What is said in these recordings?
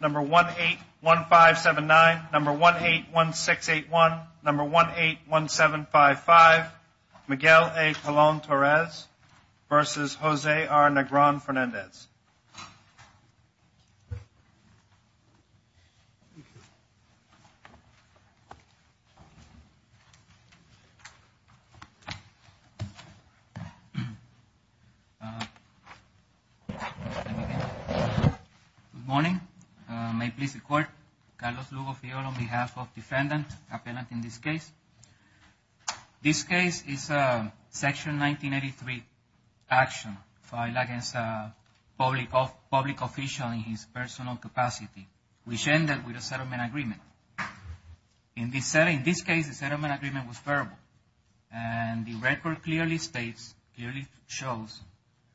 Number 181579, number 181681, number 181755, Miguel A. Colón-Torres versus Jose R. Negron Fernandez. Good morning. May it please the Court, Carlos Lugo Fiore on behalf of the defendant appellant in this case. This case is a section 1983 action filed against a public official in his personal capacity, which ended with a settlement agreement. In this case, the settlement agreement was verbal and the record clearly states, clearly shows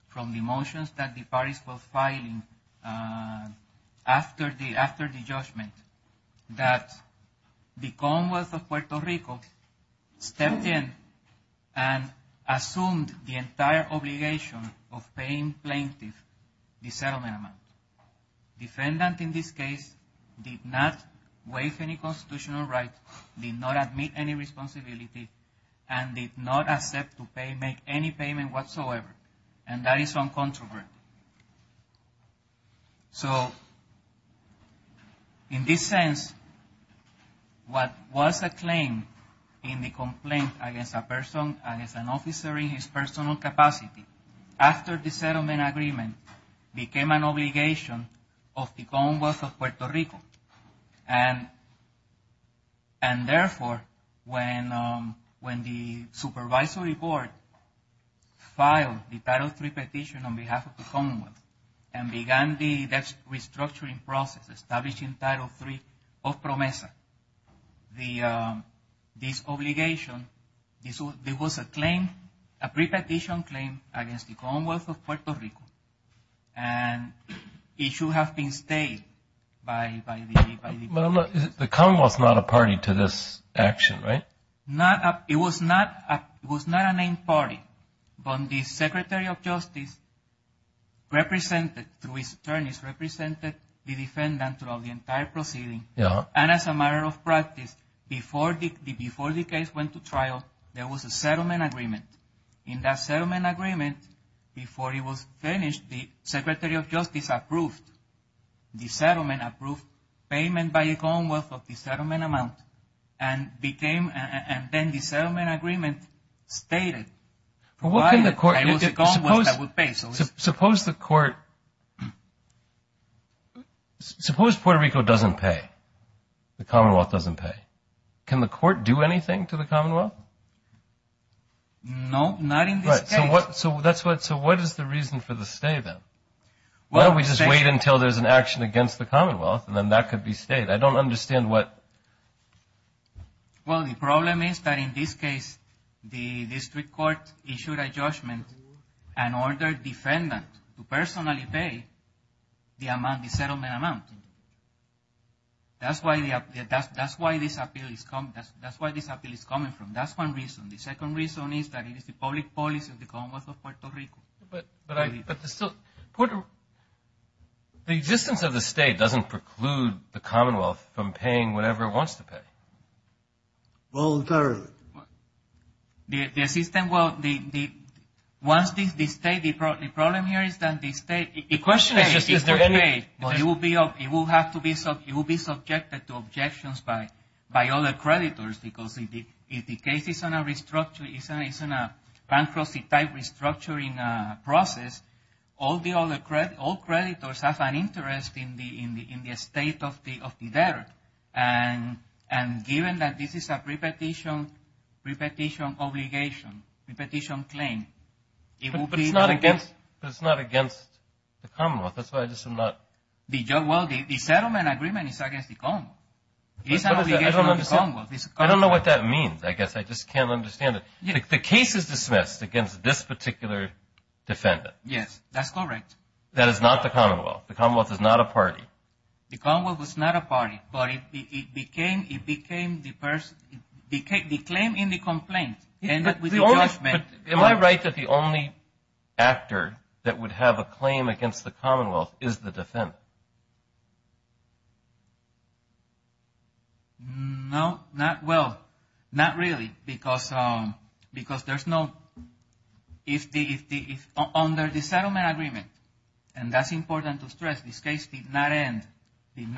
from the motions that the parties were filing after the judgment that the Commonwealth of Puerto Rico stepped in and assumed the entire obligation of paying plaintiff the settlement amount. Defendant in this case did not waive any constitutional right, did not admit any responsibility, and did not accept to make any payment whatsoever, and that is uncontroverted. So, in this sense, what was the claim in the complaint against a person, against an officer in his personal capacity, after the settlement agreement became an obligation of the Commonwealth of Puerto Rico, and therefore, when the Supervisory Board filed the Title III petition on behalf of the Commonwealth and began the restructuring process, establishing Title III of PROMESA, this obligation, there was a claim, a pre-petition claim against the Commonwealth of Puerto Rico, and it should have been stayed by the... But the Commonwealth's not a party to this action, right? It was not a named party, but the Secretary of Justice represented, through his attorneys, represented the defendant throughout the entire proceeding, and as a matter of practice, before the case went to trial, there was a settlement agreement. In that settlement agreement, before it was finished, the Secretary of Justice approved the settlement, approved payment by the and then the settlement agreement stayed, provided I was the government that would pay, so it's... Suppose the court... Suppose Puerto Rico doesn't pay, the Commonwealth doesn't pay, can the court do anything to the Commonwealth? No, not in this case. Right, so what, so that's what, so what is the reason for the stay, then? Why don't we just wait until there's an action against the Commonwealth, and then that could be stayed? I don't understand what... Well, the problem is that in this case, the district court issued a judgment and ordered the defendant to personally pay the amount, the settlement amount. That's why this appeal is coming from, that's one reason. The second reason is that it is the public policy of the Commonwealth of Puerto Rico. But the existence of the state doesn't preclude the Commonwealth from paying whatever it wants to pay. Well, the system, well, once the state, the problem here is that the state... The question is just, is there any... It will be, it will have to be, it will be subjected to objections by other creditors, because if the case is in a restructure, is in a bankruptcy-type restructuring process, all the other creditors have an interest in the state of the debtor. And given that this is a repetition obligation, repetition claim, it will be... But it's not against the Commonwealth, that's why I just am not... Well, the settlement agreement is against the Commonwealth. It's an obligation of the Commonwealth. I don't know what that means, I guess, I just can't understand it. The case is dismissed against this particular defendant. Yes, that's correct. That is not the Commonwealth. The Commonwealth is not a party. The Commonwealth was not a party, but it became the person, the claim in the complaint ended with the judgment. Am I right that the only actor that would have a claim against the Commonwealth is the defendant? No, not... Well, not really, because there's no... Under the settlement agreement, and that's important to stress, this case did not end in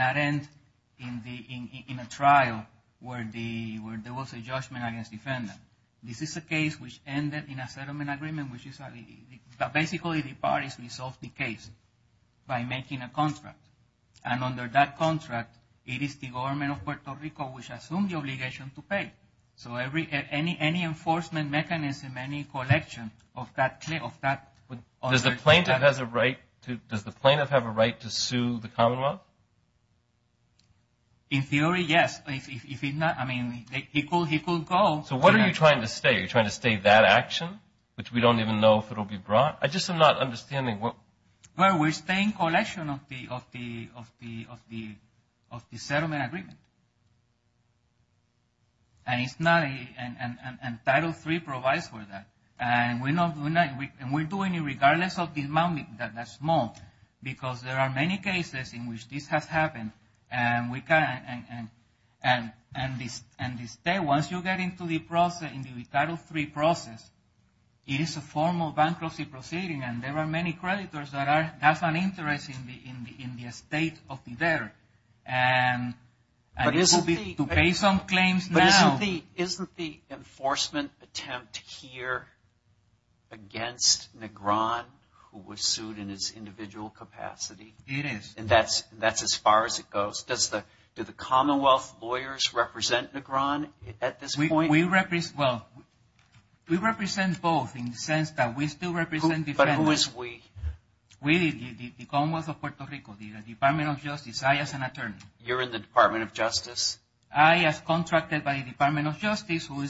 a trial where there was a judgment against the defendant. This is a case which ended in a settlement agreement, which is... Basically, the parties resolved the case by making a contract. And under that contract, it is the government of Puerto Rico which assumed the obligation to pay. So any enforcement mechanism, any collection of that... Does the plaintiff have a right to sue the Commonwealth? In theory, yes. If not, he could go... So what are you trying to say? You're trying to say that action, which we don't even know if it'll be brought? I just am not of the settlement agreement. And it's not a... And Title III provides for that. And we're not... And we're doing it regardless of the amount that's small, because there are many cases in which this has happened, and we can't... And the state, once you get into the process, in the Title III process, it is a formal bankruptcy proceeding, and there are many creditors that have an interest in the estate of the debtor. And it will be to pay some claims now. But isn't the enforcement attempt here against Negron, who was sued in his individual capacity? It is. And that's as far as it goes. Do the Commonwealth lawyers represent Negron at this point? Well, we represent both in the sense that we still represent defendants. But who is we? We, the Commonwealth of Puerto Rico, the Department of Justice. I, as an attorney. You're in the Department of Justice. I, as contracted by the Department of Justice, who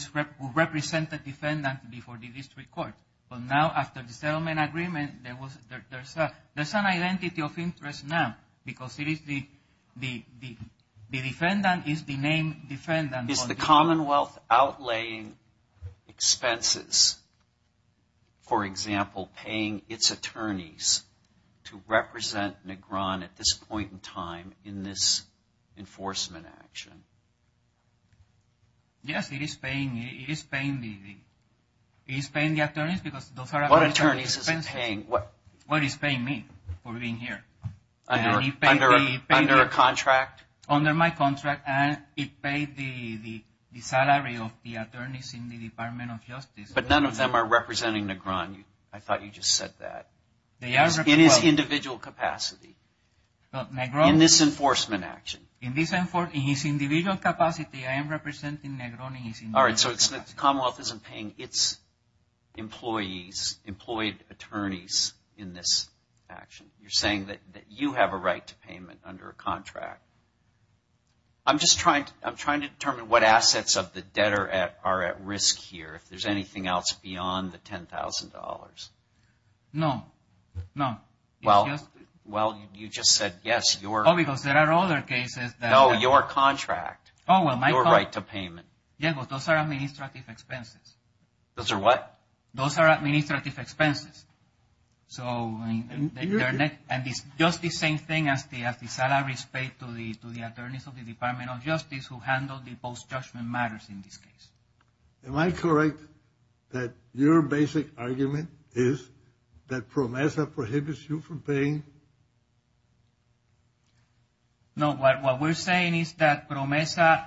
represented defendants before the district court. But now, after the settlement agreement, there's an identity of interest now, because it the defendant is the named defendant. Is the Commonwealth outlaying expenses, for example, paying its attorneys to represent Negron at this point in time in this enforcement action? Yes, it is paying the attorneys, because those are... What attorneys is it paying? What is paying me for being here? Under a contract? Under my contract. And it paid the salary of the attorneys in the Department of Justice. But none of them are representing Negron. I thought you just said that. In his individual capacity. In this enforcement action. In his individual capacity, I am representing Negron in his individual capacity. Commonwealth isn't paying its employees, employed attorneys in this action. You're saying that you have a right to payment under a contract. I'm just trying to determine what assets of the debtor are at risk here, if there's anything else beyond the $10,000. No, no. Well, you just said yes, you're... Oh, because there are other cases that... No, your contract. Oh, well, my contract... Your right to payment. Yeah, but those are administrative expenses. Those are what? Those are administrative expenses. So... And it's just the same thing as the salaries paid to the attorneys of the Department of Justice who handle the post-judgment matters in this case. Am I correct that your basic argument is that PROMESA prohibits you from paying? No, what we're saying is that PROMESA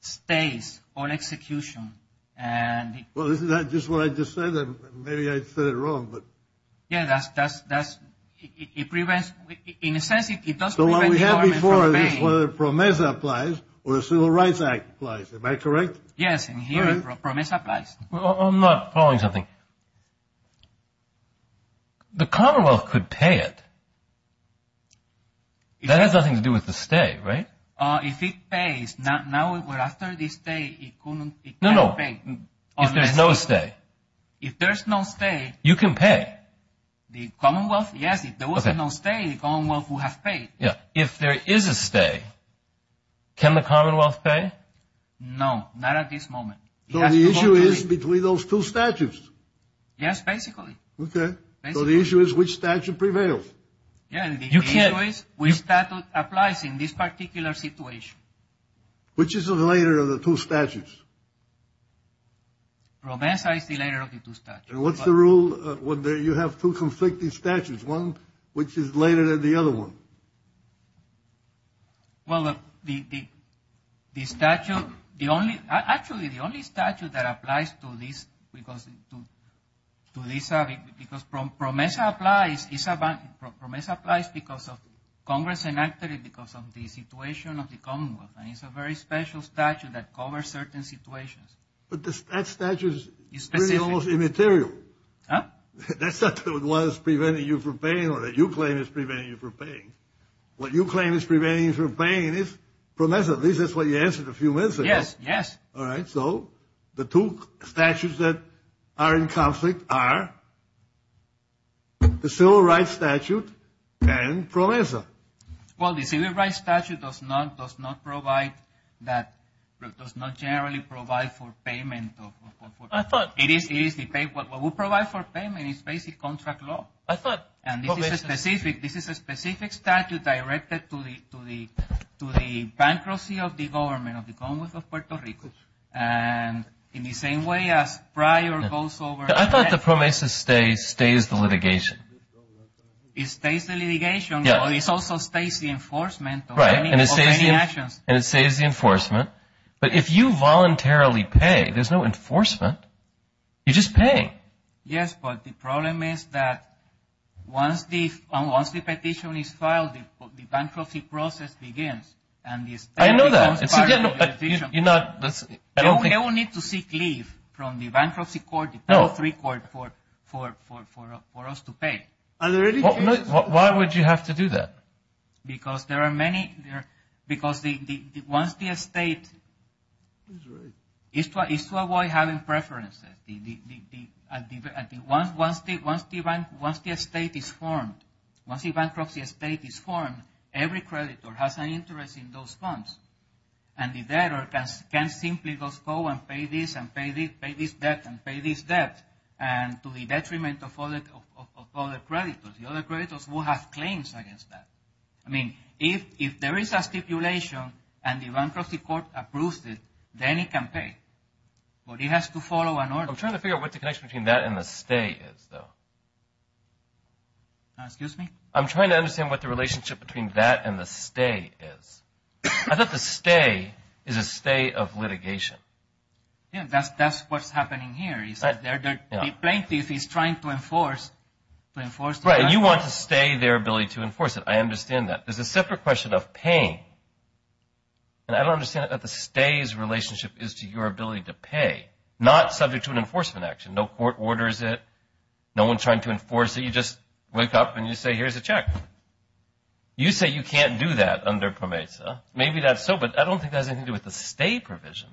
stays on execution and... Well, isn't that just what I just said? Maybe I said it wrong, but... Yeah, that's... it prevents... in a sense, it does prevent the government from paying. So what we have before is whether PROMESA applies or the Civil Rights Act applies. Am I correct? Yes, and here PROMESA applies. Well, I'm not following something. The Commonwealth could pay it. That has nothing to do with the stay, right? Uh, if it pays, not now, but after this day, it couldn't... No, no, if there's no stay. If there's no stay... You can pay. The Commonwealth? Yes, if there was a no stay, the Commonwealth would have paid. Yeah, if there is a stay, can the Commonwealth pay? No, not at this moment. So the issue is between those two statutes? Yes, basically. Okay, so the issue is which statute prevails? Yeah, the issue is which statute applies in this particular situation. Which is the later of the two statutes? PROMESA is the later of the two statutes. What's the rule... you have two conflicting statutes, one which is later than the other one? Well, the statute... the only... actually, the only statute that applies to this... because PROMESA applies... PROMESA applies because of Congress enacted it because of the situation of the Commonwealth, and it's a very special statute that covers certain situations. But that statute is almost immaterial. That statute was preventing you from paying, or that you claim is preventing you from paying. What you claim is preventing you from paying is PROMESA. At least that's what you answered a few minutes ago. Yes, yes. All right, so the two statutes that are in conflict are... the Civil Rights Statute and PROMESA. Well, the Civil Rights Statute does not... does not provide... that... does not generally provide for payment of... I thought... It is... what we provide for payment is basic contract law. I thought... And this is a specific... this is a specific statute directed to the bankruptcy of the government of the Commonwealth of Puerto Rico. And in the same way as prior goes over... I thought the PROMESA stays... stays the litigation. It stays the litigation, but it also stays the enforcement... Right. ...of any actions. And it stays the enforcement. But if you voluntarily pay, there's no enforcement. You just pay. Yes, but the problem is that once the... once the petition is filed, the bankruptcy process begins. And this... I know that. ...becomes part of the petition. You're not... I don't think... from the bankruptcy court... ...the Part 3 court for... for... for... for us to pay. Are there any cases... Why would you have to do that? Because there are many... there... because the... the... once the estate... He's right. ...is to avoid having preferences. The... the... the... once... once the... once the... once the estate is formed... once the bankruptcy estate is formed, every creditor has an interest in those funds. And the debtor can simply just go and pay this and pay this... pay this debt and pay this debt. And to the detriment of other... of other creditors. The other creditors will have claims against that. I mean, if... if there is a stipulation and the bankruptcy court approves it, then it can pay. But it has to follow an order. I'm trying to figure out what the connection between that and the stay is, though. Excuse me? I'm trying to understand what the relationship between that and the stay is. I thought the stay is a stay of litigation. Yeah, that's... that's what's happening here. He said there... there... the plaintiff is trying to enforce... to enforce... Right, and you want to stay their ability to enforce it. I understand that. There's a separate question of paying. And I don't understand that the stay's relationship is to your ability to pay, not subject to an enforcement action. No court orders it. No one's trying to enforce it. You just wake up and you say, here's a check. You say you can't do that under PROMESA. Maybe that's so, but I don't think that has anything to do with the stay provision.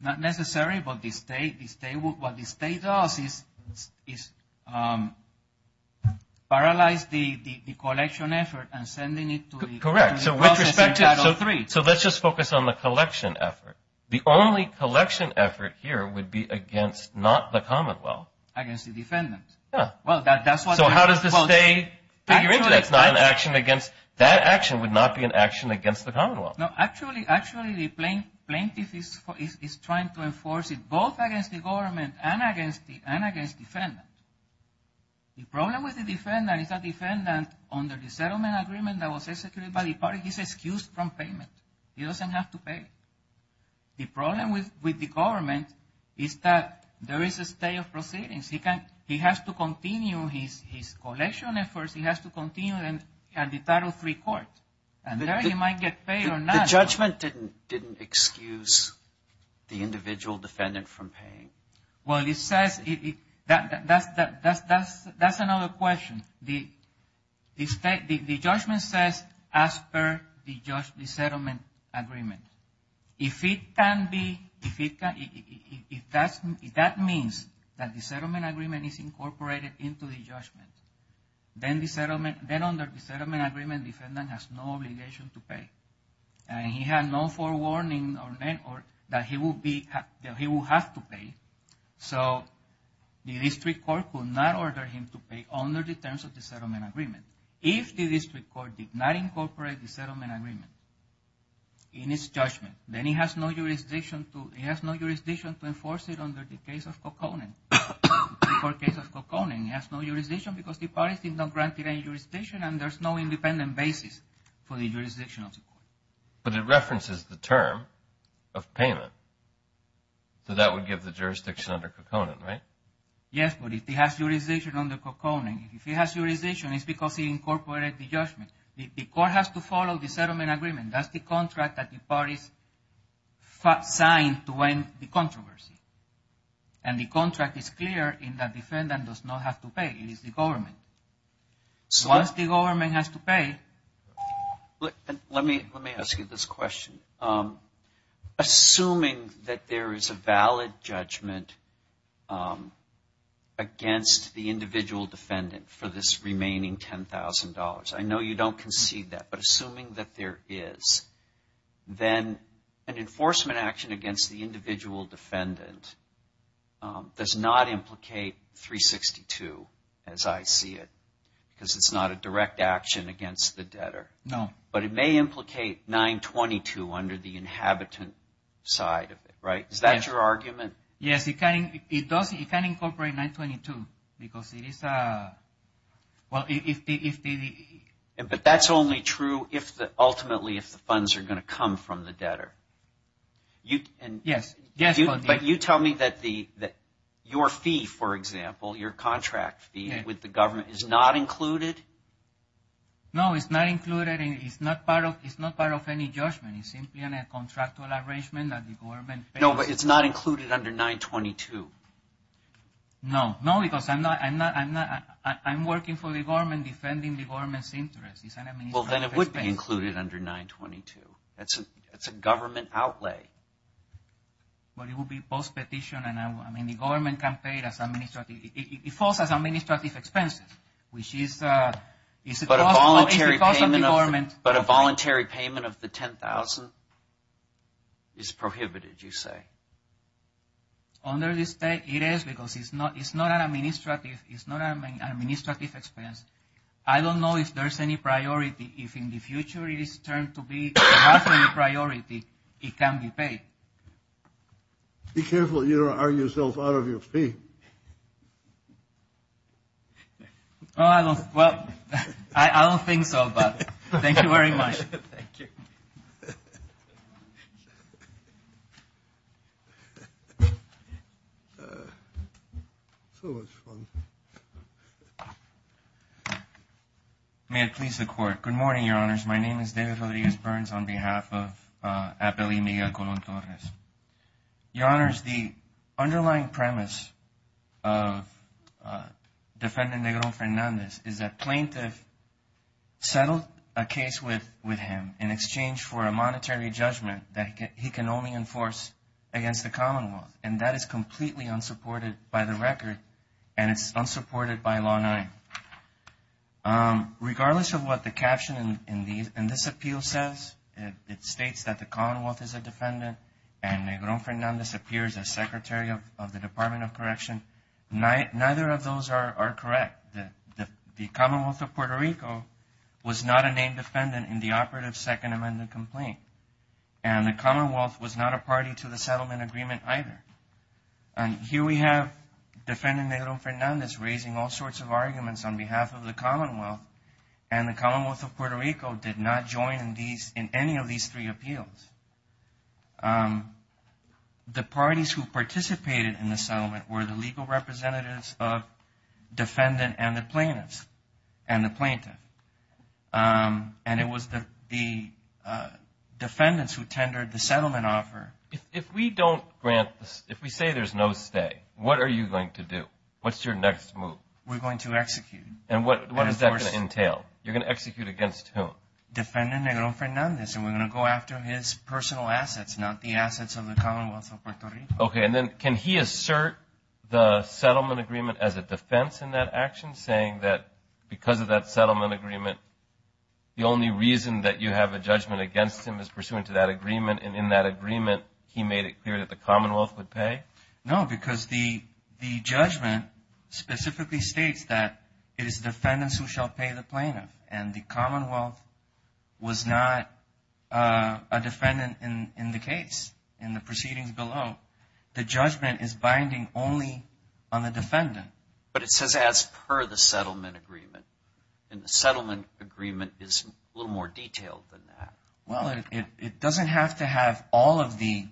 Not necessary, but the stay... the stay... what the stay does is... is... paralyze the... the... the collection effort and sending it to the... Correct. So with respect to... Title III. So let's just focus on the collection effort. The only collection effort here would be against not the commonwealth. Against the defendant. Yeah. Well, that... that's what... So how does the stay figure into that? It's not an action against... that action would not be an action against the commonwealth. No, actually... actually the plaintiff is... is trying to enforce it, both against the government and against the... and against the defendant. The problem with the defendant is that the defendant, under the settlement agreement that was executed by the party, he's excused from payment. He doesn't have to pay. The problem with... with the government is that there is a stay of proceedings. He can... he has to continue his... his collection efforts. He has to continue them at the Title III court. And there he might get paid or not. The judgment didn't... didn't excuse the individual defendant from paying. Well, it says it... that... that's... that's... that's... that's another question. The... the state... the judgment says as per the judge... the settlement agreement. If it can be... if it can... if that's... if that means that the settlement agreement is incorporated into the judgment, then the settlement... then under the settlement agreement, defendant has no obligation to pay. And he had no forewarning or... that he will be... that he will have to pay. So, the district court could not order him to pay under the terms of the settlement agreement. If the district court did not incorporate the settlement agreement in its judgment, then he has no jurisdiction to... case of Coconin. The court case of Coconin has no jurisdiction because the parties did not grant it any jurisdiction and there's no independent basis for the jurisdiction of the court. But it references the term of payment. So, that would give the jurisdiction under Coconin, right? Yes, but if he has jurisdiction under Coconin, if he has jurisdiction, it's because he incorporated the judgment. The court has to follow the settlement agreement. That's the contract that the parties... signed to end the controversy. And the contract is clear in that defendant does not have to pay. It is the government. Once the government has to pay... Let me... let me ask you this question. Assuming that there is a valid judgment against the individual defendant for this remaining $10,000. I know you don't concede that, but assuming that there is, then an enforcement action against the individual defendant does not implicate $362,000, as I see it. Because it's not a direct action against the debtor. No. But it may implicate $922,000 under the inhabitant side of it, right? Is that your argument? Yes, it can incorporate $922,000. Because it is... But that's only true if the... ultimately if the funds are going to come from the debtor. Yes, yes. But you tell me that the... your fee, for example, your contract fee with the government is not included? No, it's not included and it's not part of... it's not part of any judgment. It's simply a contractual arrangement that the government... No, but it's not included under $922,000. No. No, because I'm not... I'm working for the government, defending the government's interests. It's an administrative expense. Well, then it would be included under $922,000. That's a government outlay. Well, it would be post-petition and I mean, the government can pay it as administrative... it falls as administrative expenses, which is... But a voluntary payment of the $10,000 is prohibited, you say? Under the state, it is because it's not an administrative expense. I don't know if there's any priority. If in the future it is turned to be a priority, it can be paid. Be careful you don't argue yourself out of your fee. Oh, I don't... Well, I don't think so, but thank you very much. May it please the court. Good morning, Your Honors. My name is David Rodriguez Burns on behalf of Appellee Miguel Colon Torres. Your Honors, the underlying premise of Defendant Negron Fernandez is that plaintiff settled a case with him in exchange for a monetary judgment that he can only enforce against the Commonwealth, and that is completely unsupported by the record, and it's unsupported by Law 9. Regardless of what the caption in this appeal says, it states that the Commonwealth is a defendant and Negron Fernandez appears as Secretary of the Department of Correction. Neither of those are correct. The Commonwealth of Puerto Rico was not a named defendant in the operative Second Amendment complaint. And the Commonwealth was not a party to the settlement agreement either. And here we have Defendant Negron Fernandez raising all sorts of arguments on behalf of the Commonwealth, and the Commonwealth of Puerto Rico did not join in any of these three appeals. The parties who participated in the settlement were the legal representatives of defendant and the plaintiffs, and the plaintiff. And it was the defendants who tendered the settlement offer. If we don't grant, if we say there's no stay, what are you going to do? What's your next move? We're going to execute. And what is that going to entail? You're going to execute against whom? Defendant Negron Fernandez, and we're going to go after his personal assets, not the assets of the Commonwealth of Puerto Rico. Okay, and then can he assert the settlement agreement as a defense in that action, saying that because of that settlement agreement, the only reason that you have a judgment against him is pursuant to that agreement, and in that agreement, he made it clear that the Commonwealth would pay? No, because the judgment specifically states that it is defendants who shall pay the plaintiff, and the Commonwealth was not a defendant in the case, in the proceedings below. The judgment is binding only on the defendant. But it says as per the settlement agreement, and the settlement agreement is a little more detailed than that. Well, it doesn't have to have all of the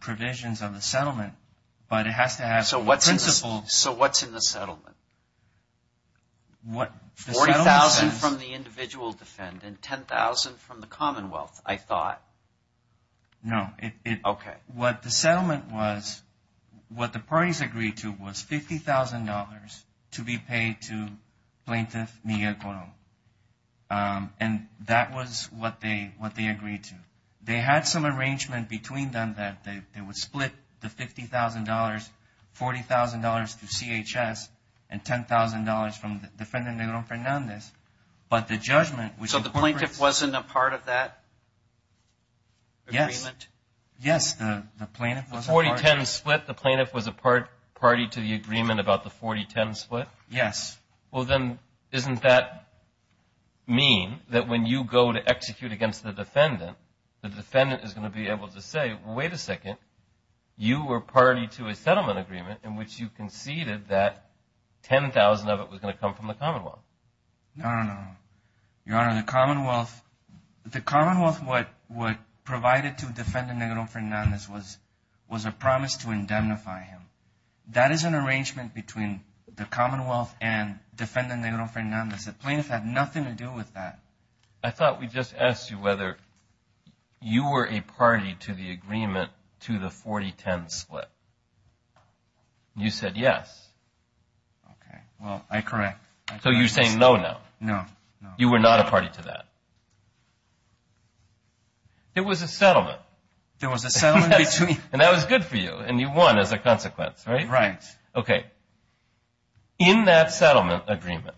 provisions of the settlement, but it has to have the principle... So what's in the settlement? What the settlement... $40,000 from the individual defendant, $10,000 from the Commonwealth, I thought. No, it... Okay. What the settlement was, what the parties agreed to was $50,000 to be paid to Plaintiff Miguel Colon, and that was what they agreed to. They had some arrangement between them that they would split the $50,000, $40,000 to CHS, and $10,000 from Defendant Negron Fernandez, but the judgment... So the plaintiff wasn't a part of that? Yes. Yes, the plaintiff was a part of it. $40,000, $10,000 split? Yes. Well, then isn't that mean that when you go to execute against the defendant, the defendant is going to be able to say, wait a second, you were party to a settlement agreement in which you conceded that $10,000 of it was going to come from the Commonwealth? No, no, no. Your Honor, the Commonwealth... The Commonwealth, what provided to Defendant Negron Fernandez was a promise to indemnify him. That is an arrangement between the Commonwealth and Defendant Negron Fernandez. The plaintiff had nothing to do with that. I thought we just asked you whether you were a party to the agreement to the $40,000, $10,000 split. You said yes. Okay, well, I correct. So you're saying no now? No, no. You were not a party to that? It was a settlement. There was a settlement between... And that was good for you, and you won as a consequence, right? Right. Okay. In that settlement agreement,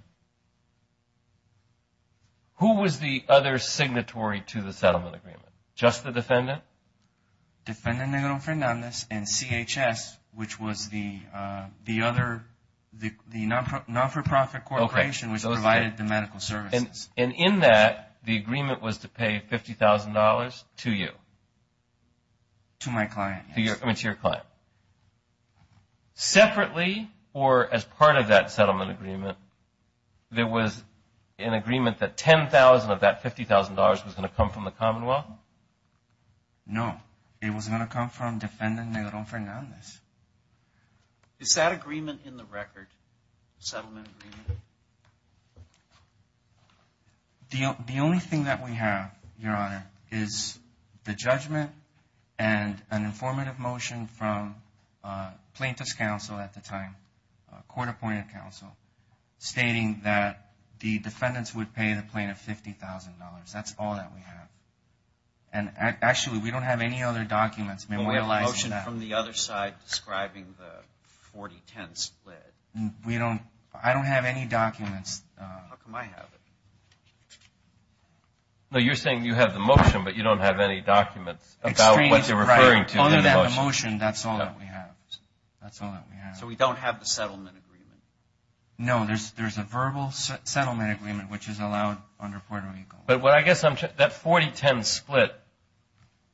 who was the other signatory to the settlement agreement? Just the defendant? Defendant Negron Fernandez and CHS, which was the non-for-profit corporation, which provided the medical services. And in that, the agreement was to pay $50,000 to you? To my client, yes. I mean, to your client. Separately, or as part of that settlement agreement, there was an agreement that $10,000 of that $50,000 was going to come from the Commonwealth? No. It was going to come from Defendant Negron Fernandez. Is that agreement in the record, settlement agreement? No. The only thing that we have, Your Honor, is the judgment and an informative motion from plaintiff's counsel at the time, court-appointed counsel, stating that the defendants would pay the plaintiff $50,000. That's all that we have. And actually, we don't have any other documents memorializing that. We have a motion from the other side describing the 40-10 split. We don't, I don't have any documents. How come I have it? No, you're saying you have the motion, but you don't have any documents about what you're referring to in the motion. Under that motion, that's all that we have. That's all that we have. So we don't have the settlement agreement? No, there's a verbal settlement agreement, which is allowed under Puerto Rico. But what I guess I'm, that 40-10 split,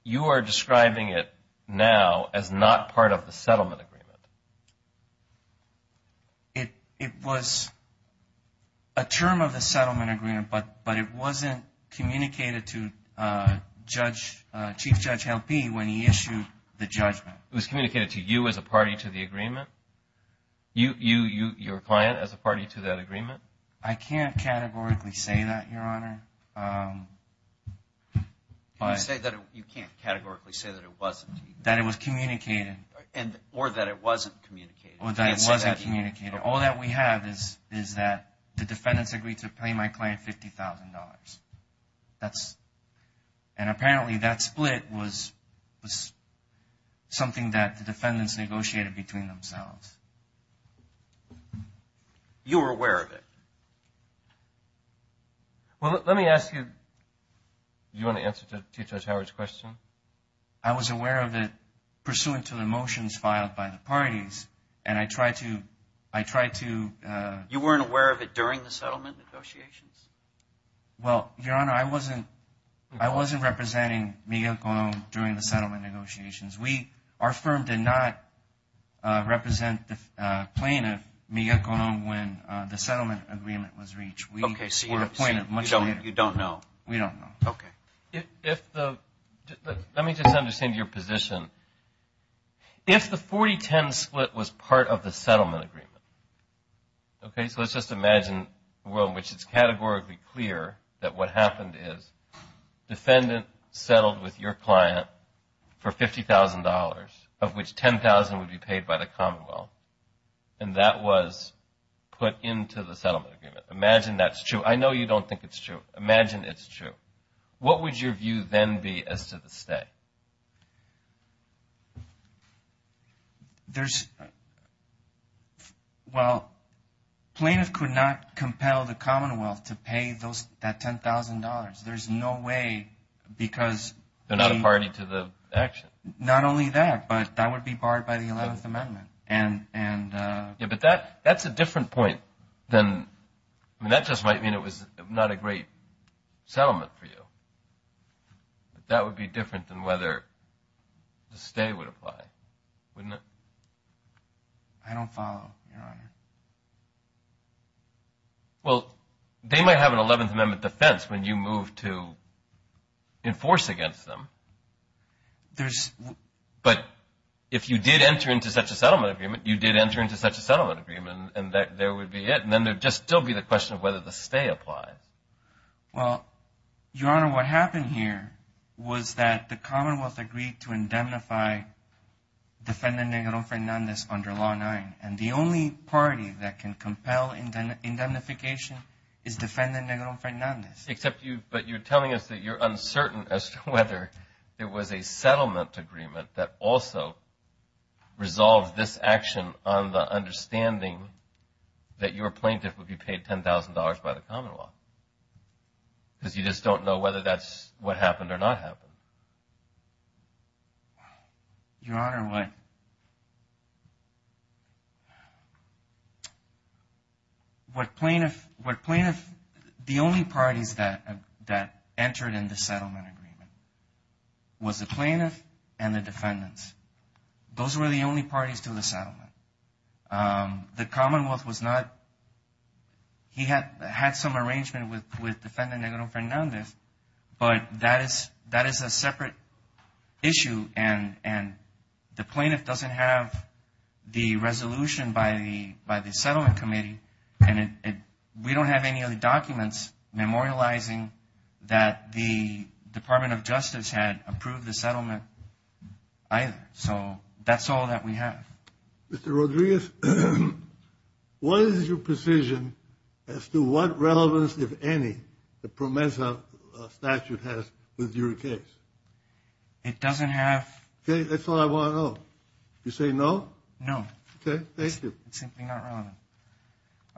you are describing it now as not part of the settlement agreement. It was a term of the settlement agreement, but it wasn't communicated to Chief Judge Helpe when he issued the judgment. It was communicated to you as a party to the agreement? Your client as a party to that agreement? I can't categorically say that, Your Honor. You can't categorically say that it wasn't? That it was communicated. Or that it wasn't communicated. Or that it wasn't communicated. All that we have is that the defendants agreed to pay my client $50,000. And apparently that split was something that the defendants negotiated between themselves. You were aware of it? Well, let me ask you, do you want to answer to Chief Judge Howard's question? I was aware of it pursuant to the motions filed by the parties and I tried to, I tried to... You weren't aware of it during the settlement negotiations? Well, Your Honor, I wasn't, I wasn't representing Miguel Colon during the settlement negotiations. We, our firm did not represent the plaintiff, Miguel Colon, when the settlement agreement was reached. We were appointed much later. You don't know? We don't know. Okay. Let me just understand your position. If the 40-10 split was part of the settlement agreement, okay, so let's just imagine a world in which it's categorically clear that what happened is defendant settled with your client for $50,000, of which $10,000 would be paid by the Commonwealth. And that was put into the settlement agreement. Imagine that's true. I know you don't think it's true. Imagine it's true. What would your view then be as to the stay? There's, well, plaintiff could not compel the Commonwealth to pay those, that $10,000. There's no way, because... They're not a party to the action. Not only that, but that would be barred by the 11th Amendment. And, and... Yeah, but that, that's a different point than, I mean, that just might mean it was not a great settlement for you. That would be different than what happened. Whether the stay would apply, wouldn't it? I don't follow, Your Honor. Well, they might have an 11th Amendment defense when you move to enforce against them. There's... But if you did enter into such a settlement agreement, you did enter into such a settlement agreement, and that there would be it. And then there'd just still be the question of whether the stay applies. Well, Your Honor, what happened here was that the Commonwealth agreed to indemnify Defendant Negrón Fernández under Law 9. And the only party that can compel indemnification is Defendant Negrón Fernández. Except you, but you're telling us that you're uncertain as to whether there was a settlement agreement that also resolved this action on the understanding that your plaintiff would be paid $10,000 by the Commonwealth. Because you just don't know whether that's what happened or not happened. Your Honor, what... What plaintiff... The only parties that entered in the settlement agreement was the plaintiff and the defendants. Those were the only parties to the settlement. The Commonwealth was not... He had some arrangement with Defendant Negrón Fernández, but that is a separate issue. And the plaintiff doesn't have the resolution by the Settlement Committee. And we don't have any other documents memorializing that the Department of Justice had approved the settlement either. So that's all that we have. Mr. Rodríguez, what is your precision as to what relevance, if any, the PROMESA statute has with your case? It doesn't have... Okay, that's all I want to know. You say no? No. Okay, thank you. It's simply not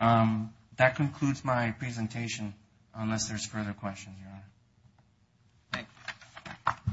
relevant. That concludes my presentation, unless there's further questions, Your Honor. Thank you. Thank you.